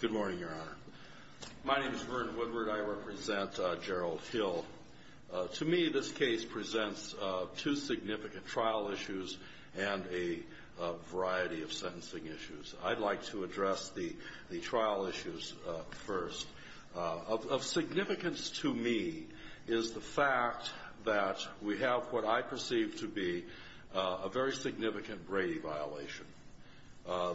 Good morning, Your Honor. My name is Vern Woodward. I represent Gerald Hill. To me, this case presents two significant trial issues and a variety of sentencing issues. I'd like to address the trial issues first. Of significance to me is the fact that we have what I perceive to be a very significant Brady violation.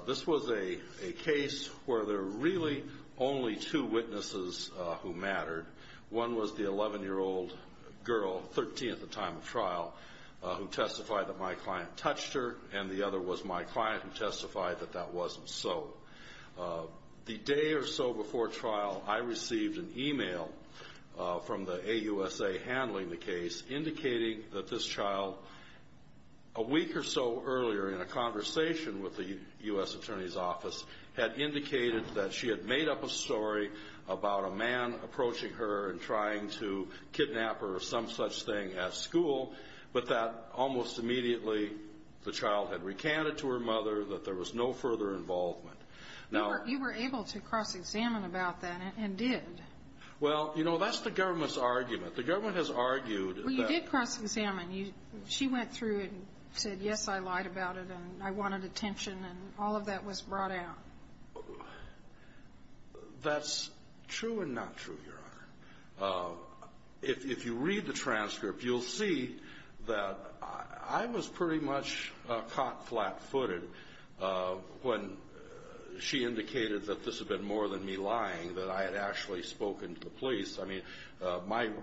This was a case where there were really only two witnesses who mattered. One was the 11-year-old girl, 13 at the time of trial, who testified that my client touched her, and the other was my client who testified that that wasn't so. The day or so before trial, I received an email from the AUSA handling the case indicating that this child, a week or so earlier in a conversation with the U.S. Attorney's Office, had indicated that she had made up a story about a man approaching her and trying to kidnap her or some such thing at school, but that almost immediately the child had recanted to her mother that there was no further involvement. You were able to cross-examine about that and did. Well, you know, that's the government's argument. The government has argued that... Well, you did cross-examine. She went through and said, yes, I lied about it and I wanted attention, and all of that was brought out. That's true and not true, Your Honor. If you read the transcript, you'll see that I was pretty much caught flat-footed when she indicated that this had been more than me lying, that I had actually spoken to the police. I mean,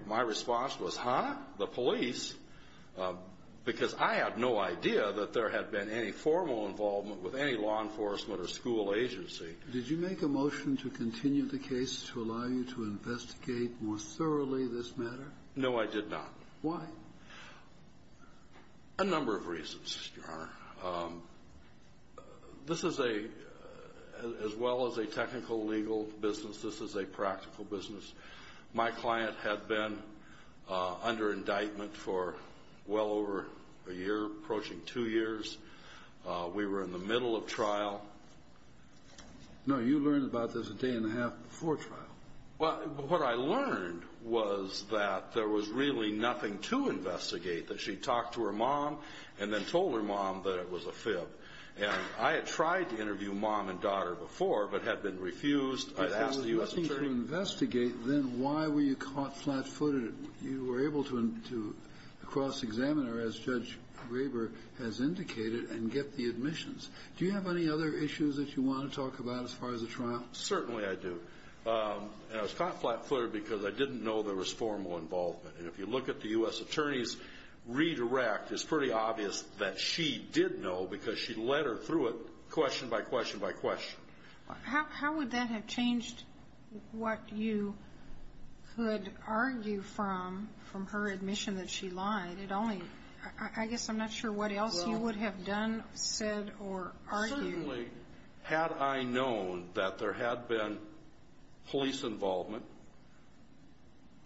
my response was, huh? The police? Because I had no idea that there had been any formal involvement with any law enforcement or school agency. Did you make a motion to continue the case to allow you to investigate more thoroughly this matter? No, I did not. Why? A number of reasons, Your Honor. This is a, as well as a technical legal business, this is a practical business. My client had been under indictment for well over a year, approaching two years. We were in the middle of trial. No, you learned about this a day and a half before trial. Well, what I learned was that there was really nothing to investigate, that she talked to her mom and then told her mom that it was a fib. And I had tried to interview mom and daughter before, but had been refused. I'd asked the U.S. Attorney. But if it was nothing to investigate, then why were you caught flat-footed? You were able to cross-examine her, as Judge Graber has indicated, and get the admissions. Do you have any other issues that you want to talk about as far as the trial? Certainly I do. And I was caught flat-footed because I didn't know there was formal involvement. And if you look at the U.S. Attorney's redirect, it's pretty obvious that she did know because she led her through it question by question by question. How would that have changed what you could argue from, from her admission that she lied? It only, I guess I'm not sure what else you would have done, said, or argued. Certainly, had I known that there had been police involvement,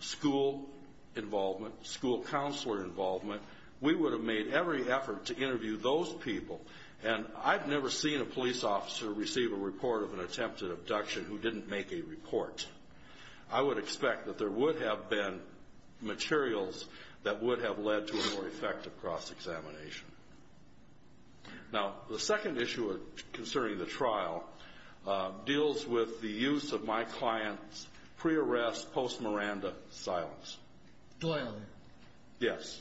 school involvement, school counselor involvement, we would have made every effort to interview those people. And I've never seen a police officer receive a report of an attempted abduction who didn't make a report. I would expect that there would have been materials that would have led to a more effective cross-examination. Now, the second issue concerning the trial deals with the use of my client's pre-arrest, post-Miranda silence. Doyle. Yes.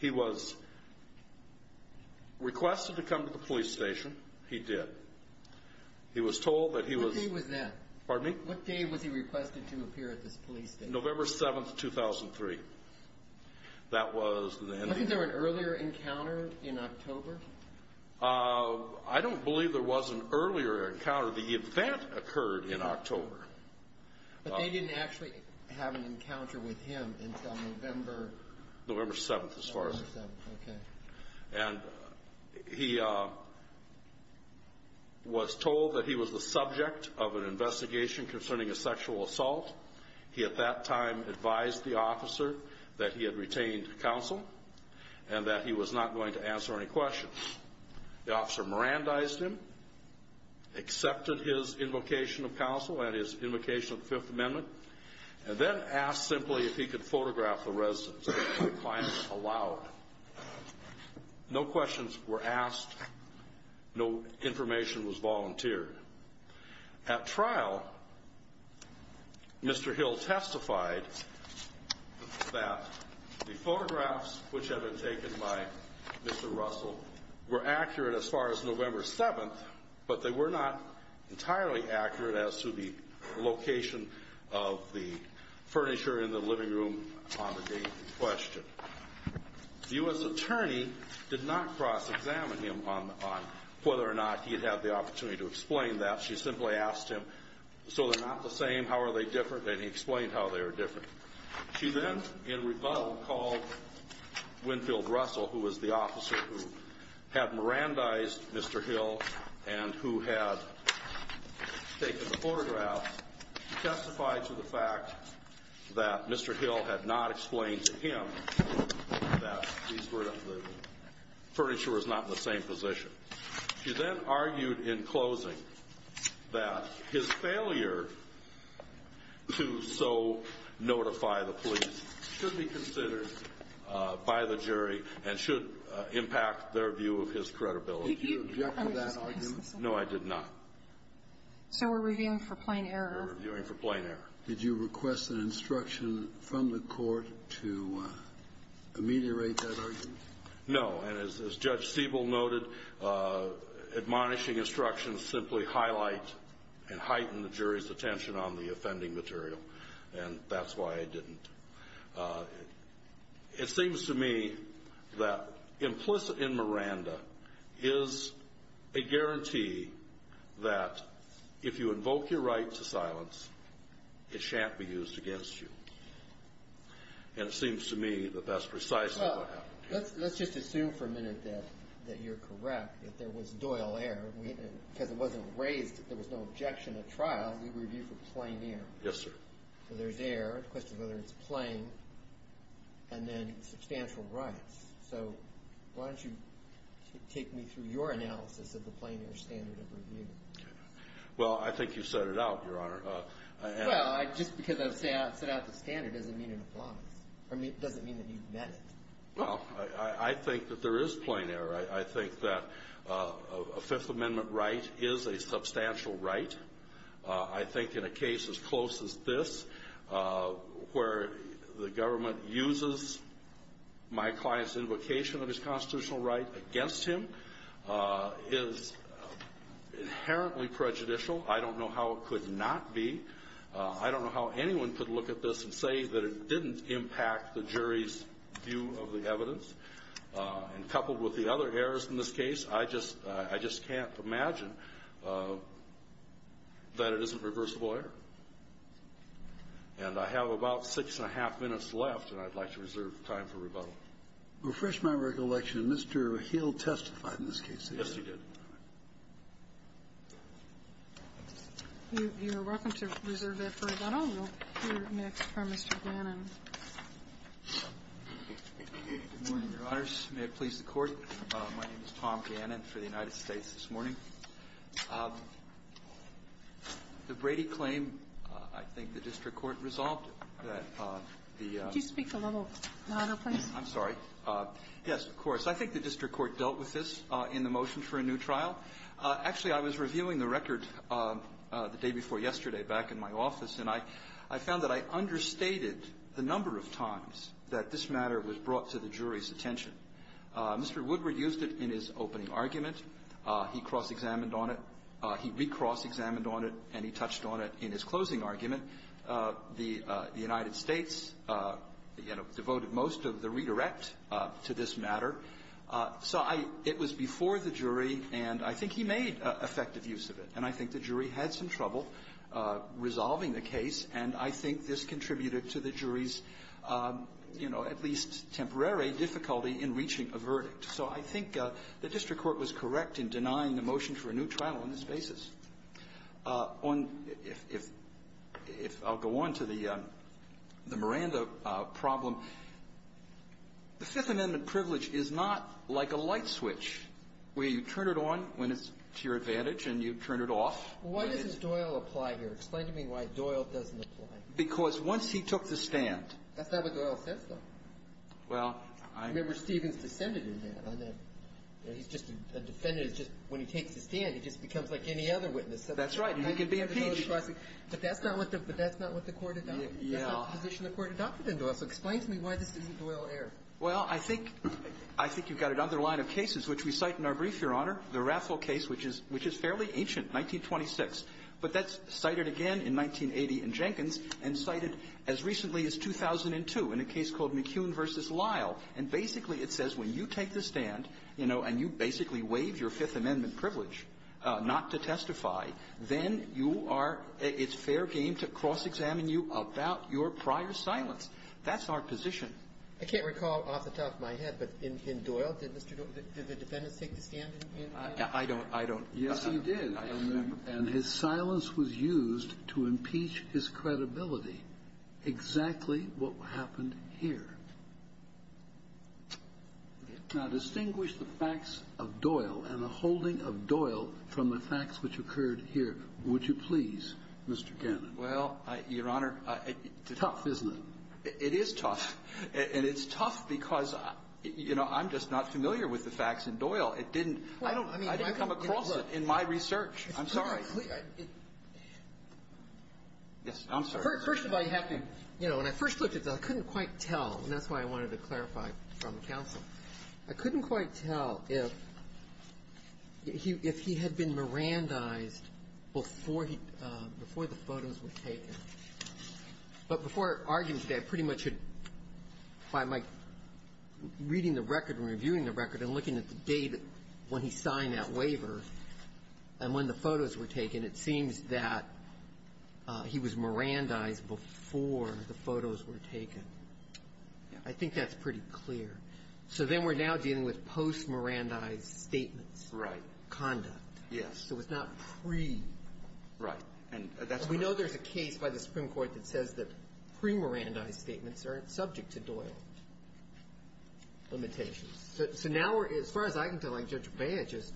He was requested to come to the police station. He did. He was told that he was... What day was that? Pardon me? What day was he requested to appear at this police station? November 7th, 2003. That was the... Wasn't there an earlier encounter in October? I don't believe there was an earlier encounter. The event occurred in October. But they didn't actually have an encounter with him until November... November 7th, as far as... November 7th, okay. And he was told that he was the subject of an investigation concerning a sexual assault. He, at that time, advised the officer that he had retained counsel and that he was not going to answer any questions. The officer Mirandized him, accepted his invocation of counsel and his invocation of the Fifth Amendment, and then asked simply if he could photograph the residence that my client allowed. No questions were asked. No information was volunteered. At trial, Mr. Hill testified that the photographs which had been taken by Mr. Russell were accurate as far as November 7th, but they were not entirely accurate as to the location of the furniture in the living room on the day in question. The U.S. attorney did not cross-examine him on whether or not he had had the opportunity to explain that. She simply asked him, so they're not the same, how are they different, and he explained how they were different. She then, in rebuttal, called Winfield Russell, who was the officer who had Mirandized Mr. Hill and who had taken the photographs, and testified to the fact that Mr. Hill had not explained to him that the furniture was not in the same position. She then argued in closing that his failure to so notify the police should be considered by the jury and should impact their view of his credibility. Did you object to that argument? No, I did not. So we're reviewing for plain error? We're reviewing for plain error. Did you request an instruction from the court to ameliorate that argument? No, and as Judge Siebel noted, admonishing instructions simply highlight and heighten the jury's attention on the offending material, and that's why I didn't. It seems to me that implicit in Miranda is a guarantee that if you invoke your right to silence, it shan't be used against you, and it seems to me that that's precisely what happened. Let's just assume for a minute that you're correct, that there was doyle error, because it wasn't raised that there was no objection at trial. We review for plain error. Yes, sir. So there's error, the question of whether it's plain, and then substantial rights. So why don't you take me through your analysis of the plain error standard of review? Well, I think you've set it out, Your Honor. Well, just because I've set out the standard doesn't mean it applies, or doesn't mean that you've met it. Well, I think that there is plain error. I think that a Fifth Amendment right is a substantial right. I think in a case as close as this, where the government uses my client's invocation of his constitutional right against him, is inherently prejudicial. I don't know how it could not be. I don't know how anyone could look at this and say that it didn't impact the jury's view of the evidence. And coupled with the other errors in this case, I just can't imagine that it isn't reversible error. And I have about six and a half minutes left, and I'd like to reserve time for rebuttal. Refresh my recollection. Mr. Hill testified in this case. Yes, he did. You're welcome to reserve that for rebuttal. We'll hear next from Mr. Gannon. Good morning, Your Honors. May it please the Court. My name is Tom Gannon for the United States this morning. The Brady claim, I think the district court resolved that the ---- Could you speak a little louder, please? I'm sorry. Yes, of course. I think the district court dealt with this in the motion for a new trial. Actually, I was reviewing the record the day before yesterday back in my office, and I found that I understated the number of times that this matter was brought to the jury's attention. Mr. Woodward used it in his opening argument. He cross-examined on it. He re-cross-examined on it, and he touched on it in his closing argument. The United States, you know, devoted most of the redirect to this matter. So I ---- it was before the jury, and I think he made effective use of it. And I think the jury had some trouble resolving the case, and I think this contributed to the jury's, you know, at least temporary difficulty in reaching a verdict. So I think the district court was correct in denying the motion for a new trial on this basis. On ---- if I'll go on to the Miranda problem, the Fifth Amendment privilege is not like a light switch where you turn it on when it's to your advantage and you turn it off when it's ---- Well, why doesn't Doyle apply here? Explain to me why Doyle doesn't apply. Because once he took the stand ---- That's not what Doyle says, though. Well, I ---- Remember, Stevens descended in that. He's just a defendant. When he takes the stand, he just becomes like any other witness. That's right. And he can be impeached. But that's not what the court adopted. Yeah. That's not the position the court adopted in Doyle. So explain to me why this isn't Doyle error. Well, I think you've got another line of cases which we cite in our brief, Your Honor, the Raffle case, which is fairly ancient, 1926. But that's cited again in 1980 in Jenkins and cited as recently as 2002 in a case called McKeown v. Lyle. And basically it says when you take the stand, you know, and you basically waive your Fifth Amendment privilege not to testify, then you are ---- it's fair game to cross-examine you about your prior silence. That's our position. I can't recall off the top of my head, but in Doyle, did Mr. Doyle ---- did the defendant take the stand in Doyle? I don't ---- I don't ---- Yes, he did. I don't remember. And his silence was used to impeach his credibility. Exactly what happened here. Now, distinguish the facts of Doyle and the holding of Doyle from the facts which occurred here, would you please, Mr. Cannon? Well, Your Honor, it's tough, isn't it? It is tough. And it's tough because, you know, I'm just not familiar with the facts in Doyle. It didn't ---- Well, I mean ---- I didn't come across it in my research. I'm sorry. Yes, I'm sorry. Well, first of all, you have to ---- you know, when I first looked at it, I couldn't quite tell, and that's why I wanted to clarify from counsel. I couldn't quite tell if he had been Mirandized before he ---- before the photos were taken. But before arguing today, I pretty much had, by my reading the record and reviewing the record and looking at the date when he signed that waiver and when the photos were taken, it seems that he was Mirandized before the photos were taken. Yeah. I think that's pretty clear. So then we're now dealing with post-Mirandized statements. Right. Conduct. Yes. So it's not pre. Right. And that's why ---- We know there's a case by the Supreme Court that says that pre-Mirandized statements aren't subject to Doyle limitations. So now we're ---- as far as I can tell, like Judge Baez just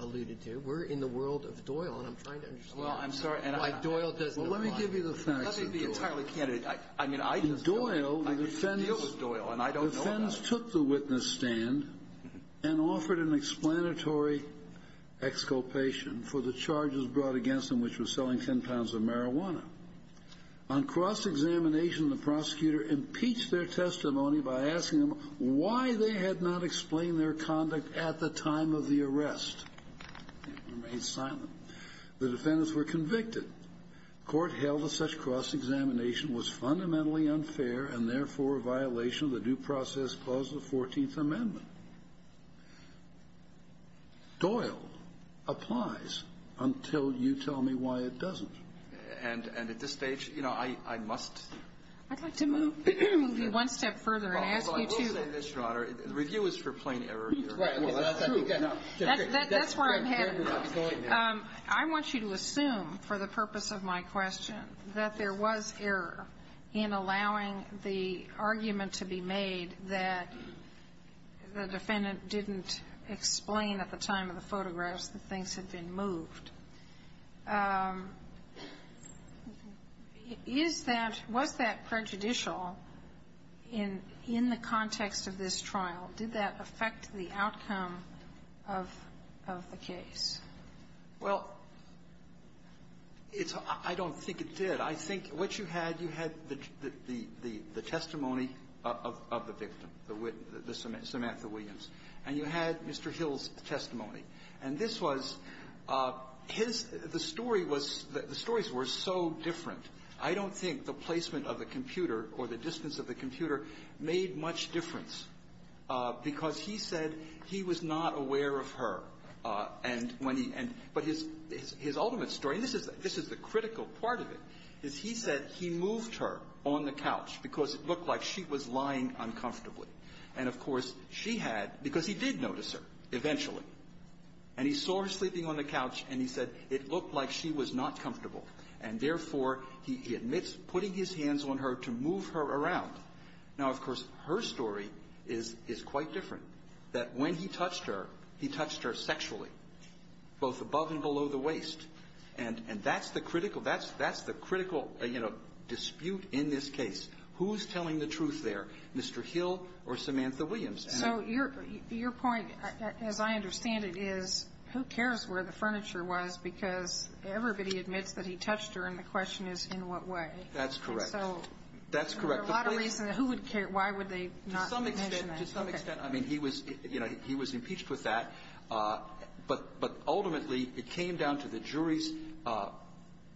alluded to, we're in the world of Doyle, and I'm trying to understand why Doyle doesn't apply. Well, let me give you the facts of Doyle. Let me be entirely candid. I mean, I just ---- In Doyle, the defense ---- I just deal with Doyle, and I don't know about ---- The defense took the witness stand and offered an explanatory exculpation for the charges brought against him, which was selling 10 pounds of marijuana. On cross-examination, the prosecutor impeached their testimony by asking them why they had not explained their conduct at the time of the arrest. It remained silent. The defendants were convicted. Court held that such cross-examination was fundamentally unfair and, therefore, a violation of the due process clause of the 14th Amendment. Doyle applies until you tell me why it doesn't. And at this stage, you know, I must ---- I'd like to move you one step further and ask you to ---- Yes, Your Honor. The review is for plain error here. Right. Well, that's true. That's where I'm headed. I want you to assume, for the purpose of my question, that there was error in allowing the argument to be made that the defendant didn't explain at the time of the photographs that things had been moved. Is that ---- was that prejudicial in the context of this trial? Did that affect the outcome of the case? Well, it's ---- I don't think it did. I think what you had, you had the testimony of the victim, the Samantha Williams, and you had Mr. Hill's testimony. And this was his ---- the story was ---- the stories were so different, I don't think the placement of the computer or the distance of the computer made much difference because he said he was not aware of her. And when he ---- but his ultimate story, and this is the critical part of it, is he said he moved her on the couch because it looked like she was lying uncomfortably. And, of course, she had ---- because he did notice her eventually. And he saw her sleeping on the couch, and he said it looked like she was not comfortable. And, therefore, he admits putting his hands on her to move her around. Now, of course, her story is quite different, that when he touched her, he touched her sexually, both above and below the waist. And that's the critical ---- that's the critical, you know, dispute in this case. Who's telling the truth there? Mr. Hill or Samantha Williams? And ---- So your point, as I understand it, is who cares where the furniture was because everybody admits that he touched her, and the question is in what way. That's correct. So there are a lot of reasons who would care. Why would they not mention that? To some extent, to some extent. I mean, he was ---- you know, he was impeached with that. But ultimately, it came down to the jury's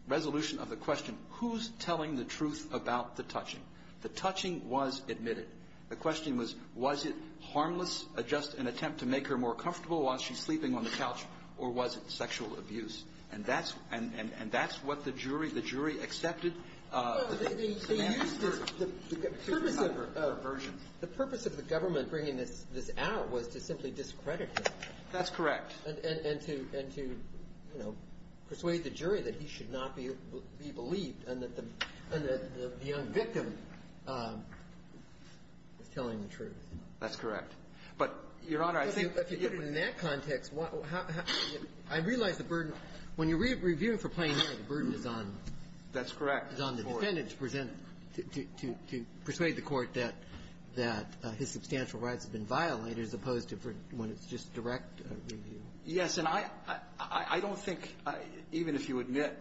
resolution of the question, who's telling the truth about the touching? The touching was admitted. The question was, was it harmless, just an attempt to make her more comfortable while she's sleeping on the couch, or was it sexual abuse? And that's what the jury, the jury accepted. The purpose of the government bringing this out was to simply discredit him. That's correct. And to, you know, persuade the jury that he should not be believed and that the young victim is telling the truth. That's correct. But, Your Honor, I think ---- In that context, how ---- I realize the burden. When you're reviewing for plain law, the burden is on ---- That's correct. ---- is on the defendant to present, to persuade the court that his substantial rights have been violated as opposed to when it's just direct review. Yes. And I don't think, even if you admit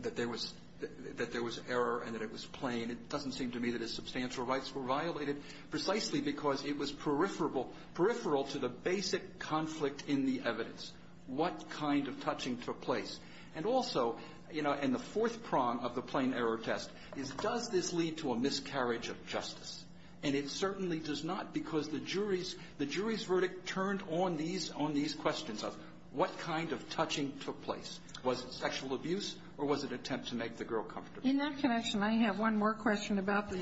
that there was error and that it was plain, it doesn't seem to me that his substantial rights were violated precisely because it was peripheral to the basic conflict in the evidence, what kind of touching took place. And also, you know, and the fourth prong of the plain error test is, does this lead to a miscarriage of justice? And it certainly does not because the jury's questions of what kind of touching took place. Was it sexual abuse or was it an attempt to make the girl comfortable? In that connection, I have one more question about the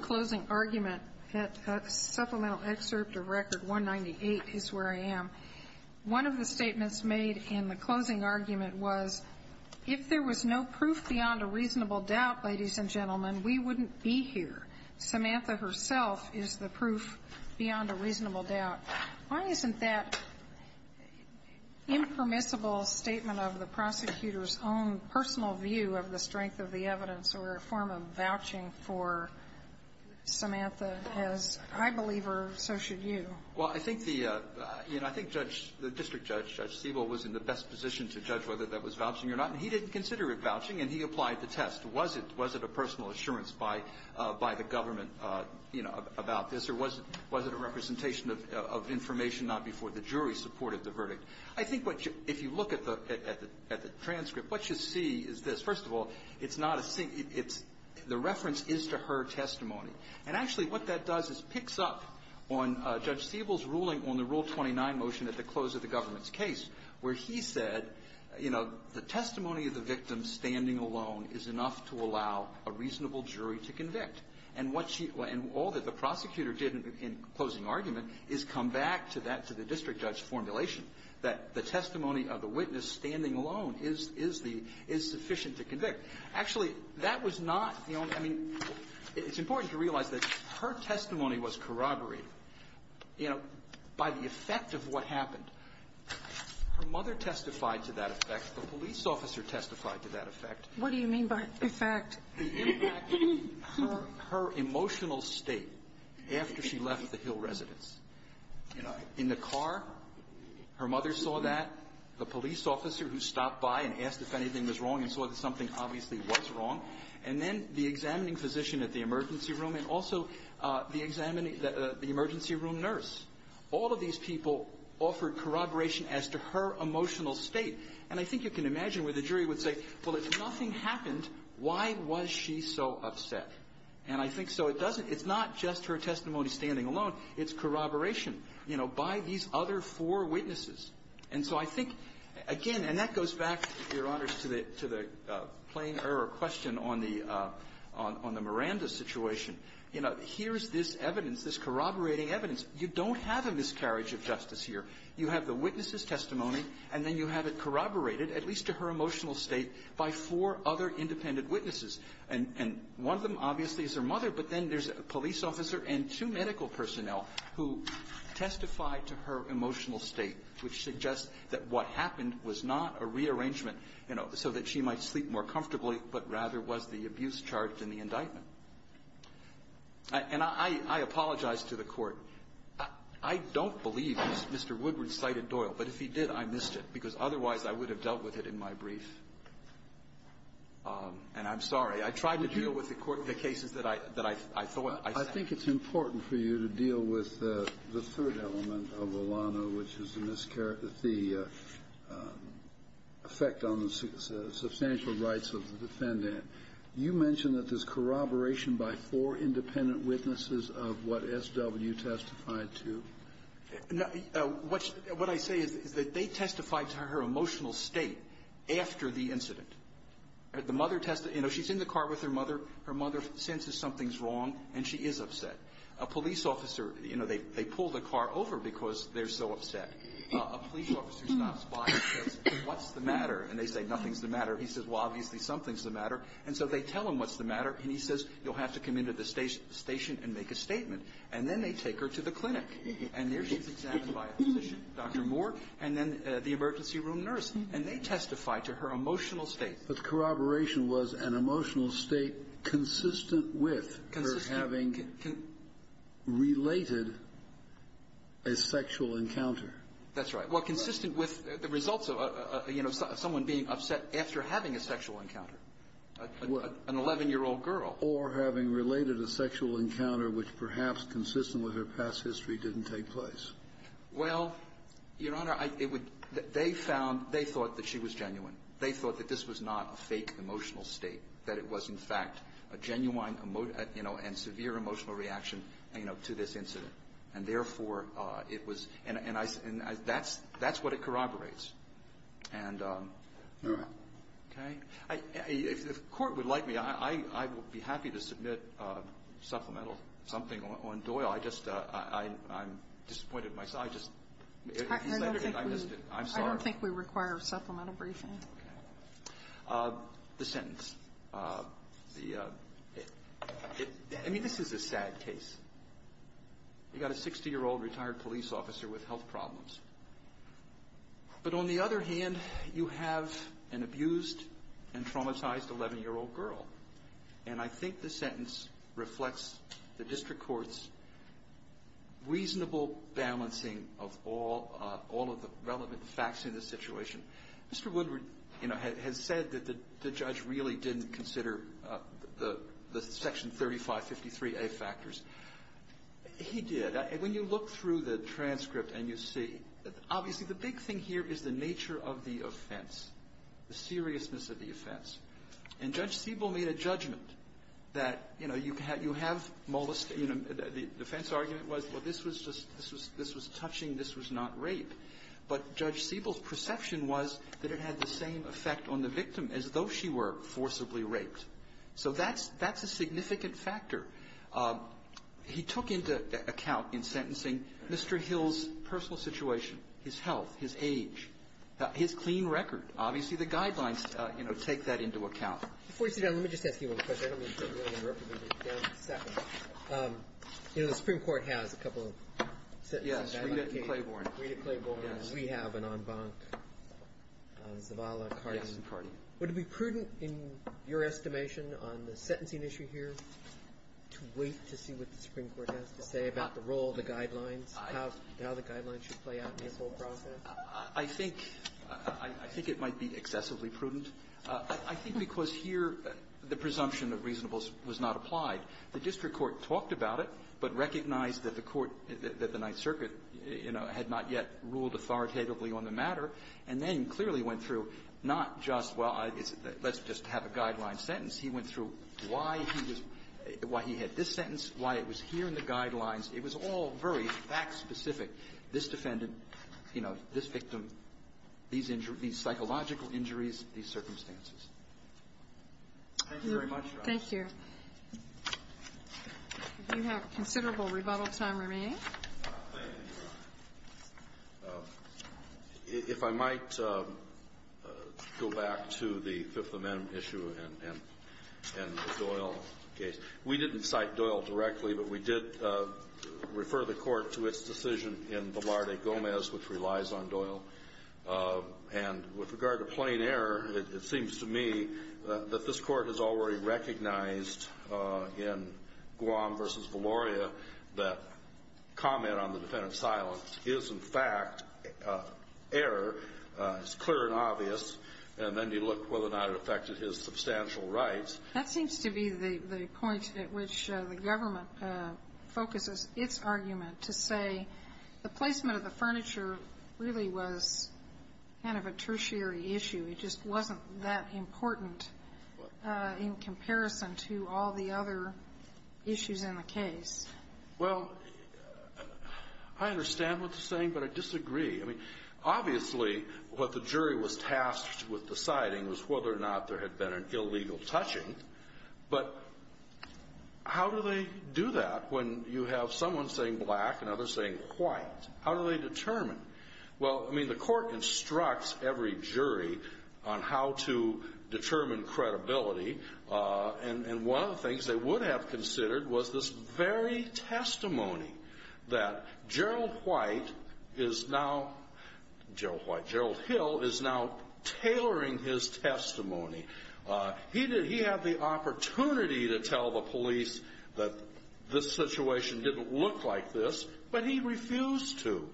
closing argument. That supplemental excerpt of Record 198 is where I am. One of the statements made in the closing argument was, if there was no proof beyond a reasonable doubt, ladies and gentlemen, we wouldn't be here. Samantha herself is the proof beyond a reasonable doubt. Why isn't that impermissible statement of the prosecutor's own personal view of the strength of the evidence or a form of vouching for Samantha as I believe her, so should you? Well, I think the, you know, I think Judge, the district judge, Judge Siebel, was in the best position to judge whether that was vouching or not. And he didn't consider it vouching, and he applied the test. Was it a personal assurance by the government, you know, about this, or was it a representation of information not before the jury supported the verdict? I think what you, if you look at the, at the transcript, what you see is this. First of all, it's not a, it's, the reference is to her testimony. And actually, what that does is picks up on Judge Siebel's ruling on the Rule 29 motion at the close of the government's case, where he said, you know, the testimony of the victim standing alone is enough to allow a reasonable jury to convict. And what she, and all that the prosecutor did in closing argument is come back to that, to the district judge's formulation, that the testimony of the witness standing alone is, is the, is sufficient to convict. Actually, that was not, you know, I mean, it's important to realize that her testimony was corroborated, you know, by the effect of what happened. Her mother testified to that effect. The police officer testified to that effect. What do you mean by effect? The impact, her, her emotional state after she left the Hill residence. You know, in the car, her mother saw that. The police officer who stopped by and asked if anything was wrong and saw that something obviously was wrong. And then the examining physician at the emergency room, and also the examining the, the emergency room nurse. All of these people offered corroboration as to her emotional state. And I think you can imagine where the jury would say, well, if nothing happened, why was she so upset? And I think so. It doesn't, it's not just her testimony standing alone. It's corroboration, you know, by these other four witnesses. And so I think, again, and that goes back, Your Honors, to the, to the plain error question on the, on the Miranda situation. You know, here's this evidence, this corroborating evidence. You don't have a miscarriage of justice here. You have the witness's testimony, and then you have it corroborated, at least to her emotional state, by four other independent witnesses. And, and one of them, obviously, is her mother. But then there's a police officer and two medical personnel who testify to her emotional state, which suggests that what happened was not a rearrangement, you know, so that she might sleep more comfortably, but rather was the abuse charged in the indictment. And I, I apologize to the Court. I don't believe Mr. Woodward cited Doyle. But if he did, I missed it, because otherwise I would have dealt with it in my brief. And I'm sorry. I tried to deal with the Court, the cases that I, that I thought I said. Kennedy. I think it's important for you to deal with the third element of Olano, which is the miscarriage, the effect on the substantial rights of the defendant. You mentioned that there's corroboration by four independent witnesses of what S.W. testified to. Now, what, what I say is, is that they testified to her emotional state after the incident. The mother testified, you know, she's in the car with her mother. Her mother senses something's wrong, and she is upset. A police officer, you know, they, they pull the car over because they're so upset. A police officer stops by and says, what's the matter? And they say, nothing's the matter. He says, well, obviously something's the matter. And so they tell him what's the matter. And he says, you'll have to come into the station and make a statement. And then they take her to the clinic. And there she's examined by a physician, Dr. Moore, and then the emergency room nurse. And they testified to her emotional state. But corroboration was an emotional state consistent with her having related a sexual encounter. That's right. Well, consistent with the results of, you know, someone being upset after having a sexual encounter. What? An 11-year-old girl. Or having related a sexual encounter which, perhaps, consistent with her past history, didn't take place. Well, Your Honor, I, it would, they found, they thought that she was genuine. They thought that this was not a fake emotional state, that it was, in fact, a genuine, you know, and severe emotional reaction, you know, to this incident. And, therefore, it was, and I, that's what it corroborates. And, okay? If the Court would like me, I would be happy to submit supplemental something on Doyle. I just, I'm disappointed in myself. I just, if you let me, I missed it. I'm sorry. I don't think we require supplemental briefing. Okay. The sentence. The, I mean, this is a sad case. You got a 60-year-old retired police officer with health problems. But, on the other hand, you have an abused and traumatized 11-year-old girl. And I think the sentence reflects the District Court's reasonable balancing of all, all of the relevant facts in this situation. Mr. Woodward, you know, has said that the judge really didn't consider the Section 3553A factors. He did. When you look through the transcript and you see, obviously, the big thing here is the nature of the offense, the seriousness of the offense. And Judge Siebel made a judgment that, you know, you have molestation. The offense argument was, well, this was just, this was touching, this was not rape. But Judge Siebel's perception was that it had the same effect on the victim as though she were forcibly raped. So that's, that's a significant factor. He took into account in sentencing Mr. Hill's personal situation, his health, his age, his clean record. Obviously, the guidelines, you know, take that into account. Before you sit down, let me just ask you one question. I don't mean to really interrupt you, but just bear with me a second. You know, the Supreme Court has a couple of sentences. Yes. Read it in Claiborne. Read it in Claiborne. We have an en banc on Zavala, Cardin. Yes, in Cardin. Would it be prudent in your estimation on the sentencing issue here to wait to see what the Supreme Court has to say about the role of the guidelines, how the guidelines should play out in this whole process? I think, I think it might be excessively prudent. I think because here the presumption of reasonableness was not applied. The district court talked about it, but recognized that the court, that the Ninth Circuit, you know, had not yet ruled authoritatively on the matter, and then clearly went through not just, well, let's just have a guideline sentence. He went through why he was why he had this sentence, why it was here in the guidelines. It was all very fact-specific, this defendant, you know, this victim, these psychological Thank you very much, Your Honor. Thank you. You have considerable rebuttal time remaining. Thank you, Your Honor. If I might go back to the Fifth Amendment issue and the Doyle case. We didn't cite Doyle directly, but we did refer the Court to its decision in Velarde Gomez, which relies on Doyle. And with regard to plain error, it seems to me that this Court has already recognized in Guam v. Valoria that comment on the defendant's silence is, in fact, error, is clear and obvious, and then you look whether or not it affected his substantial rights. That seems to be the point at which the government focuses its argument, to say the kind of a tertiary issue. It just wasn't that important in comparison to all the other issues in the case. Well, I understand what you're saying, but I disagree. I mean, obviously, what the jury was tasked with deciding was whether or not there had been an illegal touching. But how do they do that when you have someone saying black and others saying white? How do they determine? Well, I mean, the Court instructs every jury on how to determine credibility, and one of the things they would have considered was this very testimony that Gerald White is now, Gerald Hill is now tailoring his testimony. He had the opportunity to tell the police that this situation didn't look like this, but he refused to.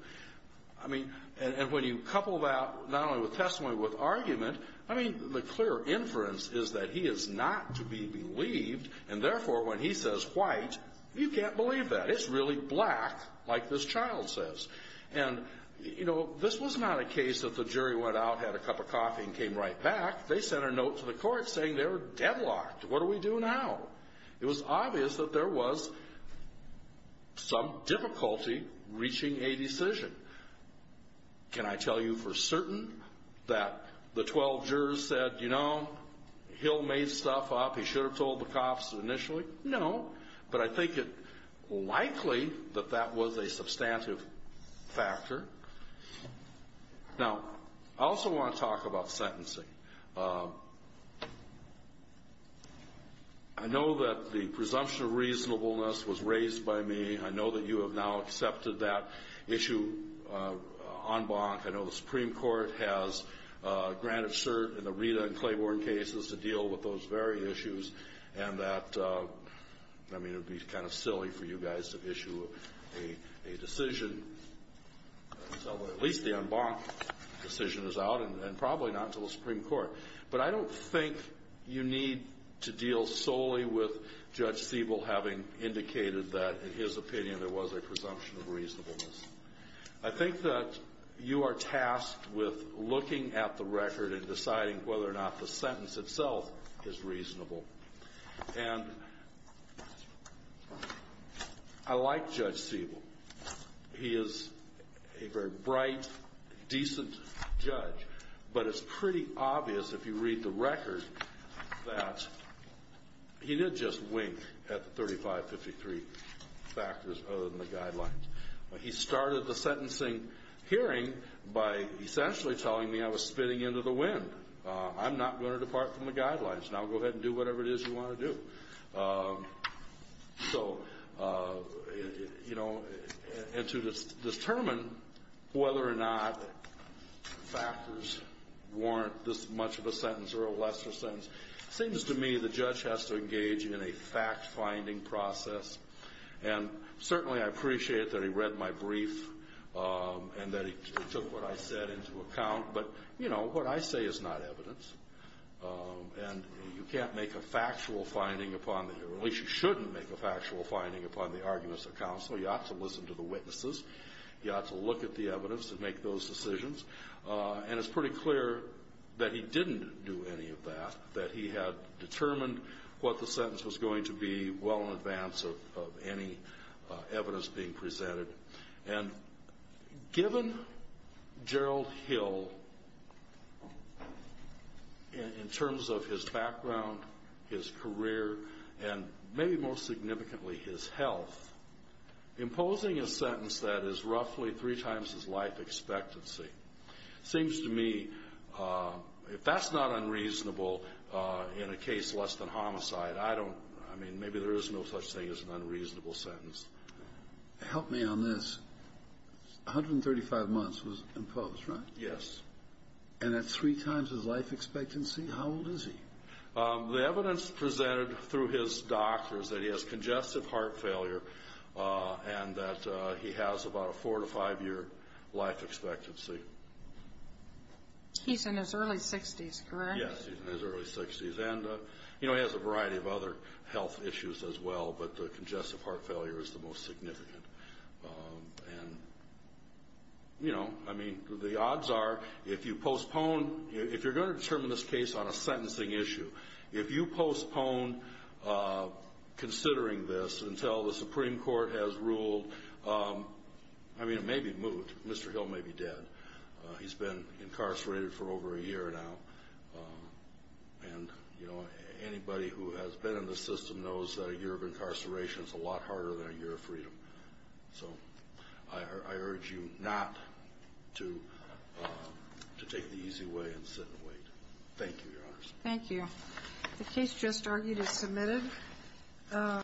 I mean, and when you couple that not only with testimony but with argument, I mean, the clear inference is that he is not to be believed, and therefore, when he says white, you can't believe that. It's really black, like this child says. And, you know, this was not a case that the jury went out, had a cup of coffee, and came right back. They sent a note to the Court saying they were deadlocked. What do we do now? It was obvious that there was some difficulty reaching a decision. Can I tell you for certain that the 12 jurors said, you know, Hill made stuff up, he should have told the cops initially? No, but I think it likely that that was a substantive factor. Now, I also want to talk about sentencing. I know that the presumption of reasonableness was raised by me. I know that you have now accepted that issue en banc. I know the Supreme Court has granted cert in the Rita and Claiborne cases to deal with those very issues, and that, I mean, it would be kind of silly for you guys to issue a decision until at least the en banc decision is out, and probably not until the Supreme Court. But I don't think you need to deal solely with Judge Siebel having indicated that in his opinion there was a presumption of reasonableness. I think that you are tasked with looking at the record and deciding whether or not the sentence itself is reasonable. And I like Judge Siebel. He is a very bright, decent judge. But it's pretty obvious if you read the record that he did just wink at the 3553 factors other than the guidelines. He started the sentencing hearing by essentially telling me I was spinning into the wind. I'm not going to depart from the guidelines. Now go ahead and do whatever it is you want to do. So, you know, and to determine whether or not factors warrant this much of a sentence or a lesser sentence, it seems to me the judge has to engage in a fact-finding process. And certainly I appreciate that he read my brief and that he took what I said into account. But, you know, what I say is not evidence. And you can't make a factual finding upon the hearing, or at least you shouldn't make a factual finding upon the arguments of counsel. You ought to listen to the witnesses. You ought to look at the evidence and make those decisions. And it's pretty clear that he didn't do any of that, that he had determined what the sentence was going to be well in advance of any evidence being presented. And given Gerald Hill, in terms of his background, his career, and maybe most significantly his health, imposing a sentence that is roughly three times his life expectancy seems to me, if that's not unreasonable in a case less than homicide, I don't, I mean, maybe there is no such thing as an unreasonable sentence. Help me on this. 135 months was imposed, right? Yes. And that's three times his life expectancy? How old is he? The evidence presented through his doctor is that he has congestive heart failure and that he has about a four- to five-year life expectancy. He's in his early 60s, correct? Yes, he's in his early 60s. And, you know, he has a variety of other health issues as well, but the congestive heart failure is the most significant. And, you know, I mean, the odds are if you postpone, if you're going to determine this case on a sentencing issue, if you postpone considering this until the Supreme Court has ruled, I mean, it may be moved. Mr. Hill may be dead. He's been incarcerated for over a year now. And, you know, anybody who has been in the system knows that a year of incarceration is a lot harder than a year of freedom. So I urge you not to take the easy way and sit and wait. Thank you, Your Honors. Thank you. The case just argued is submitted.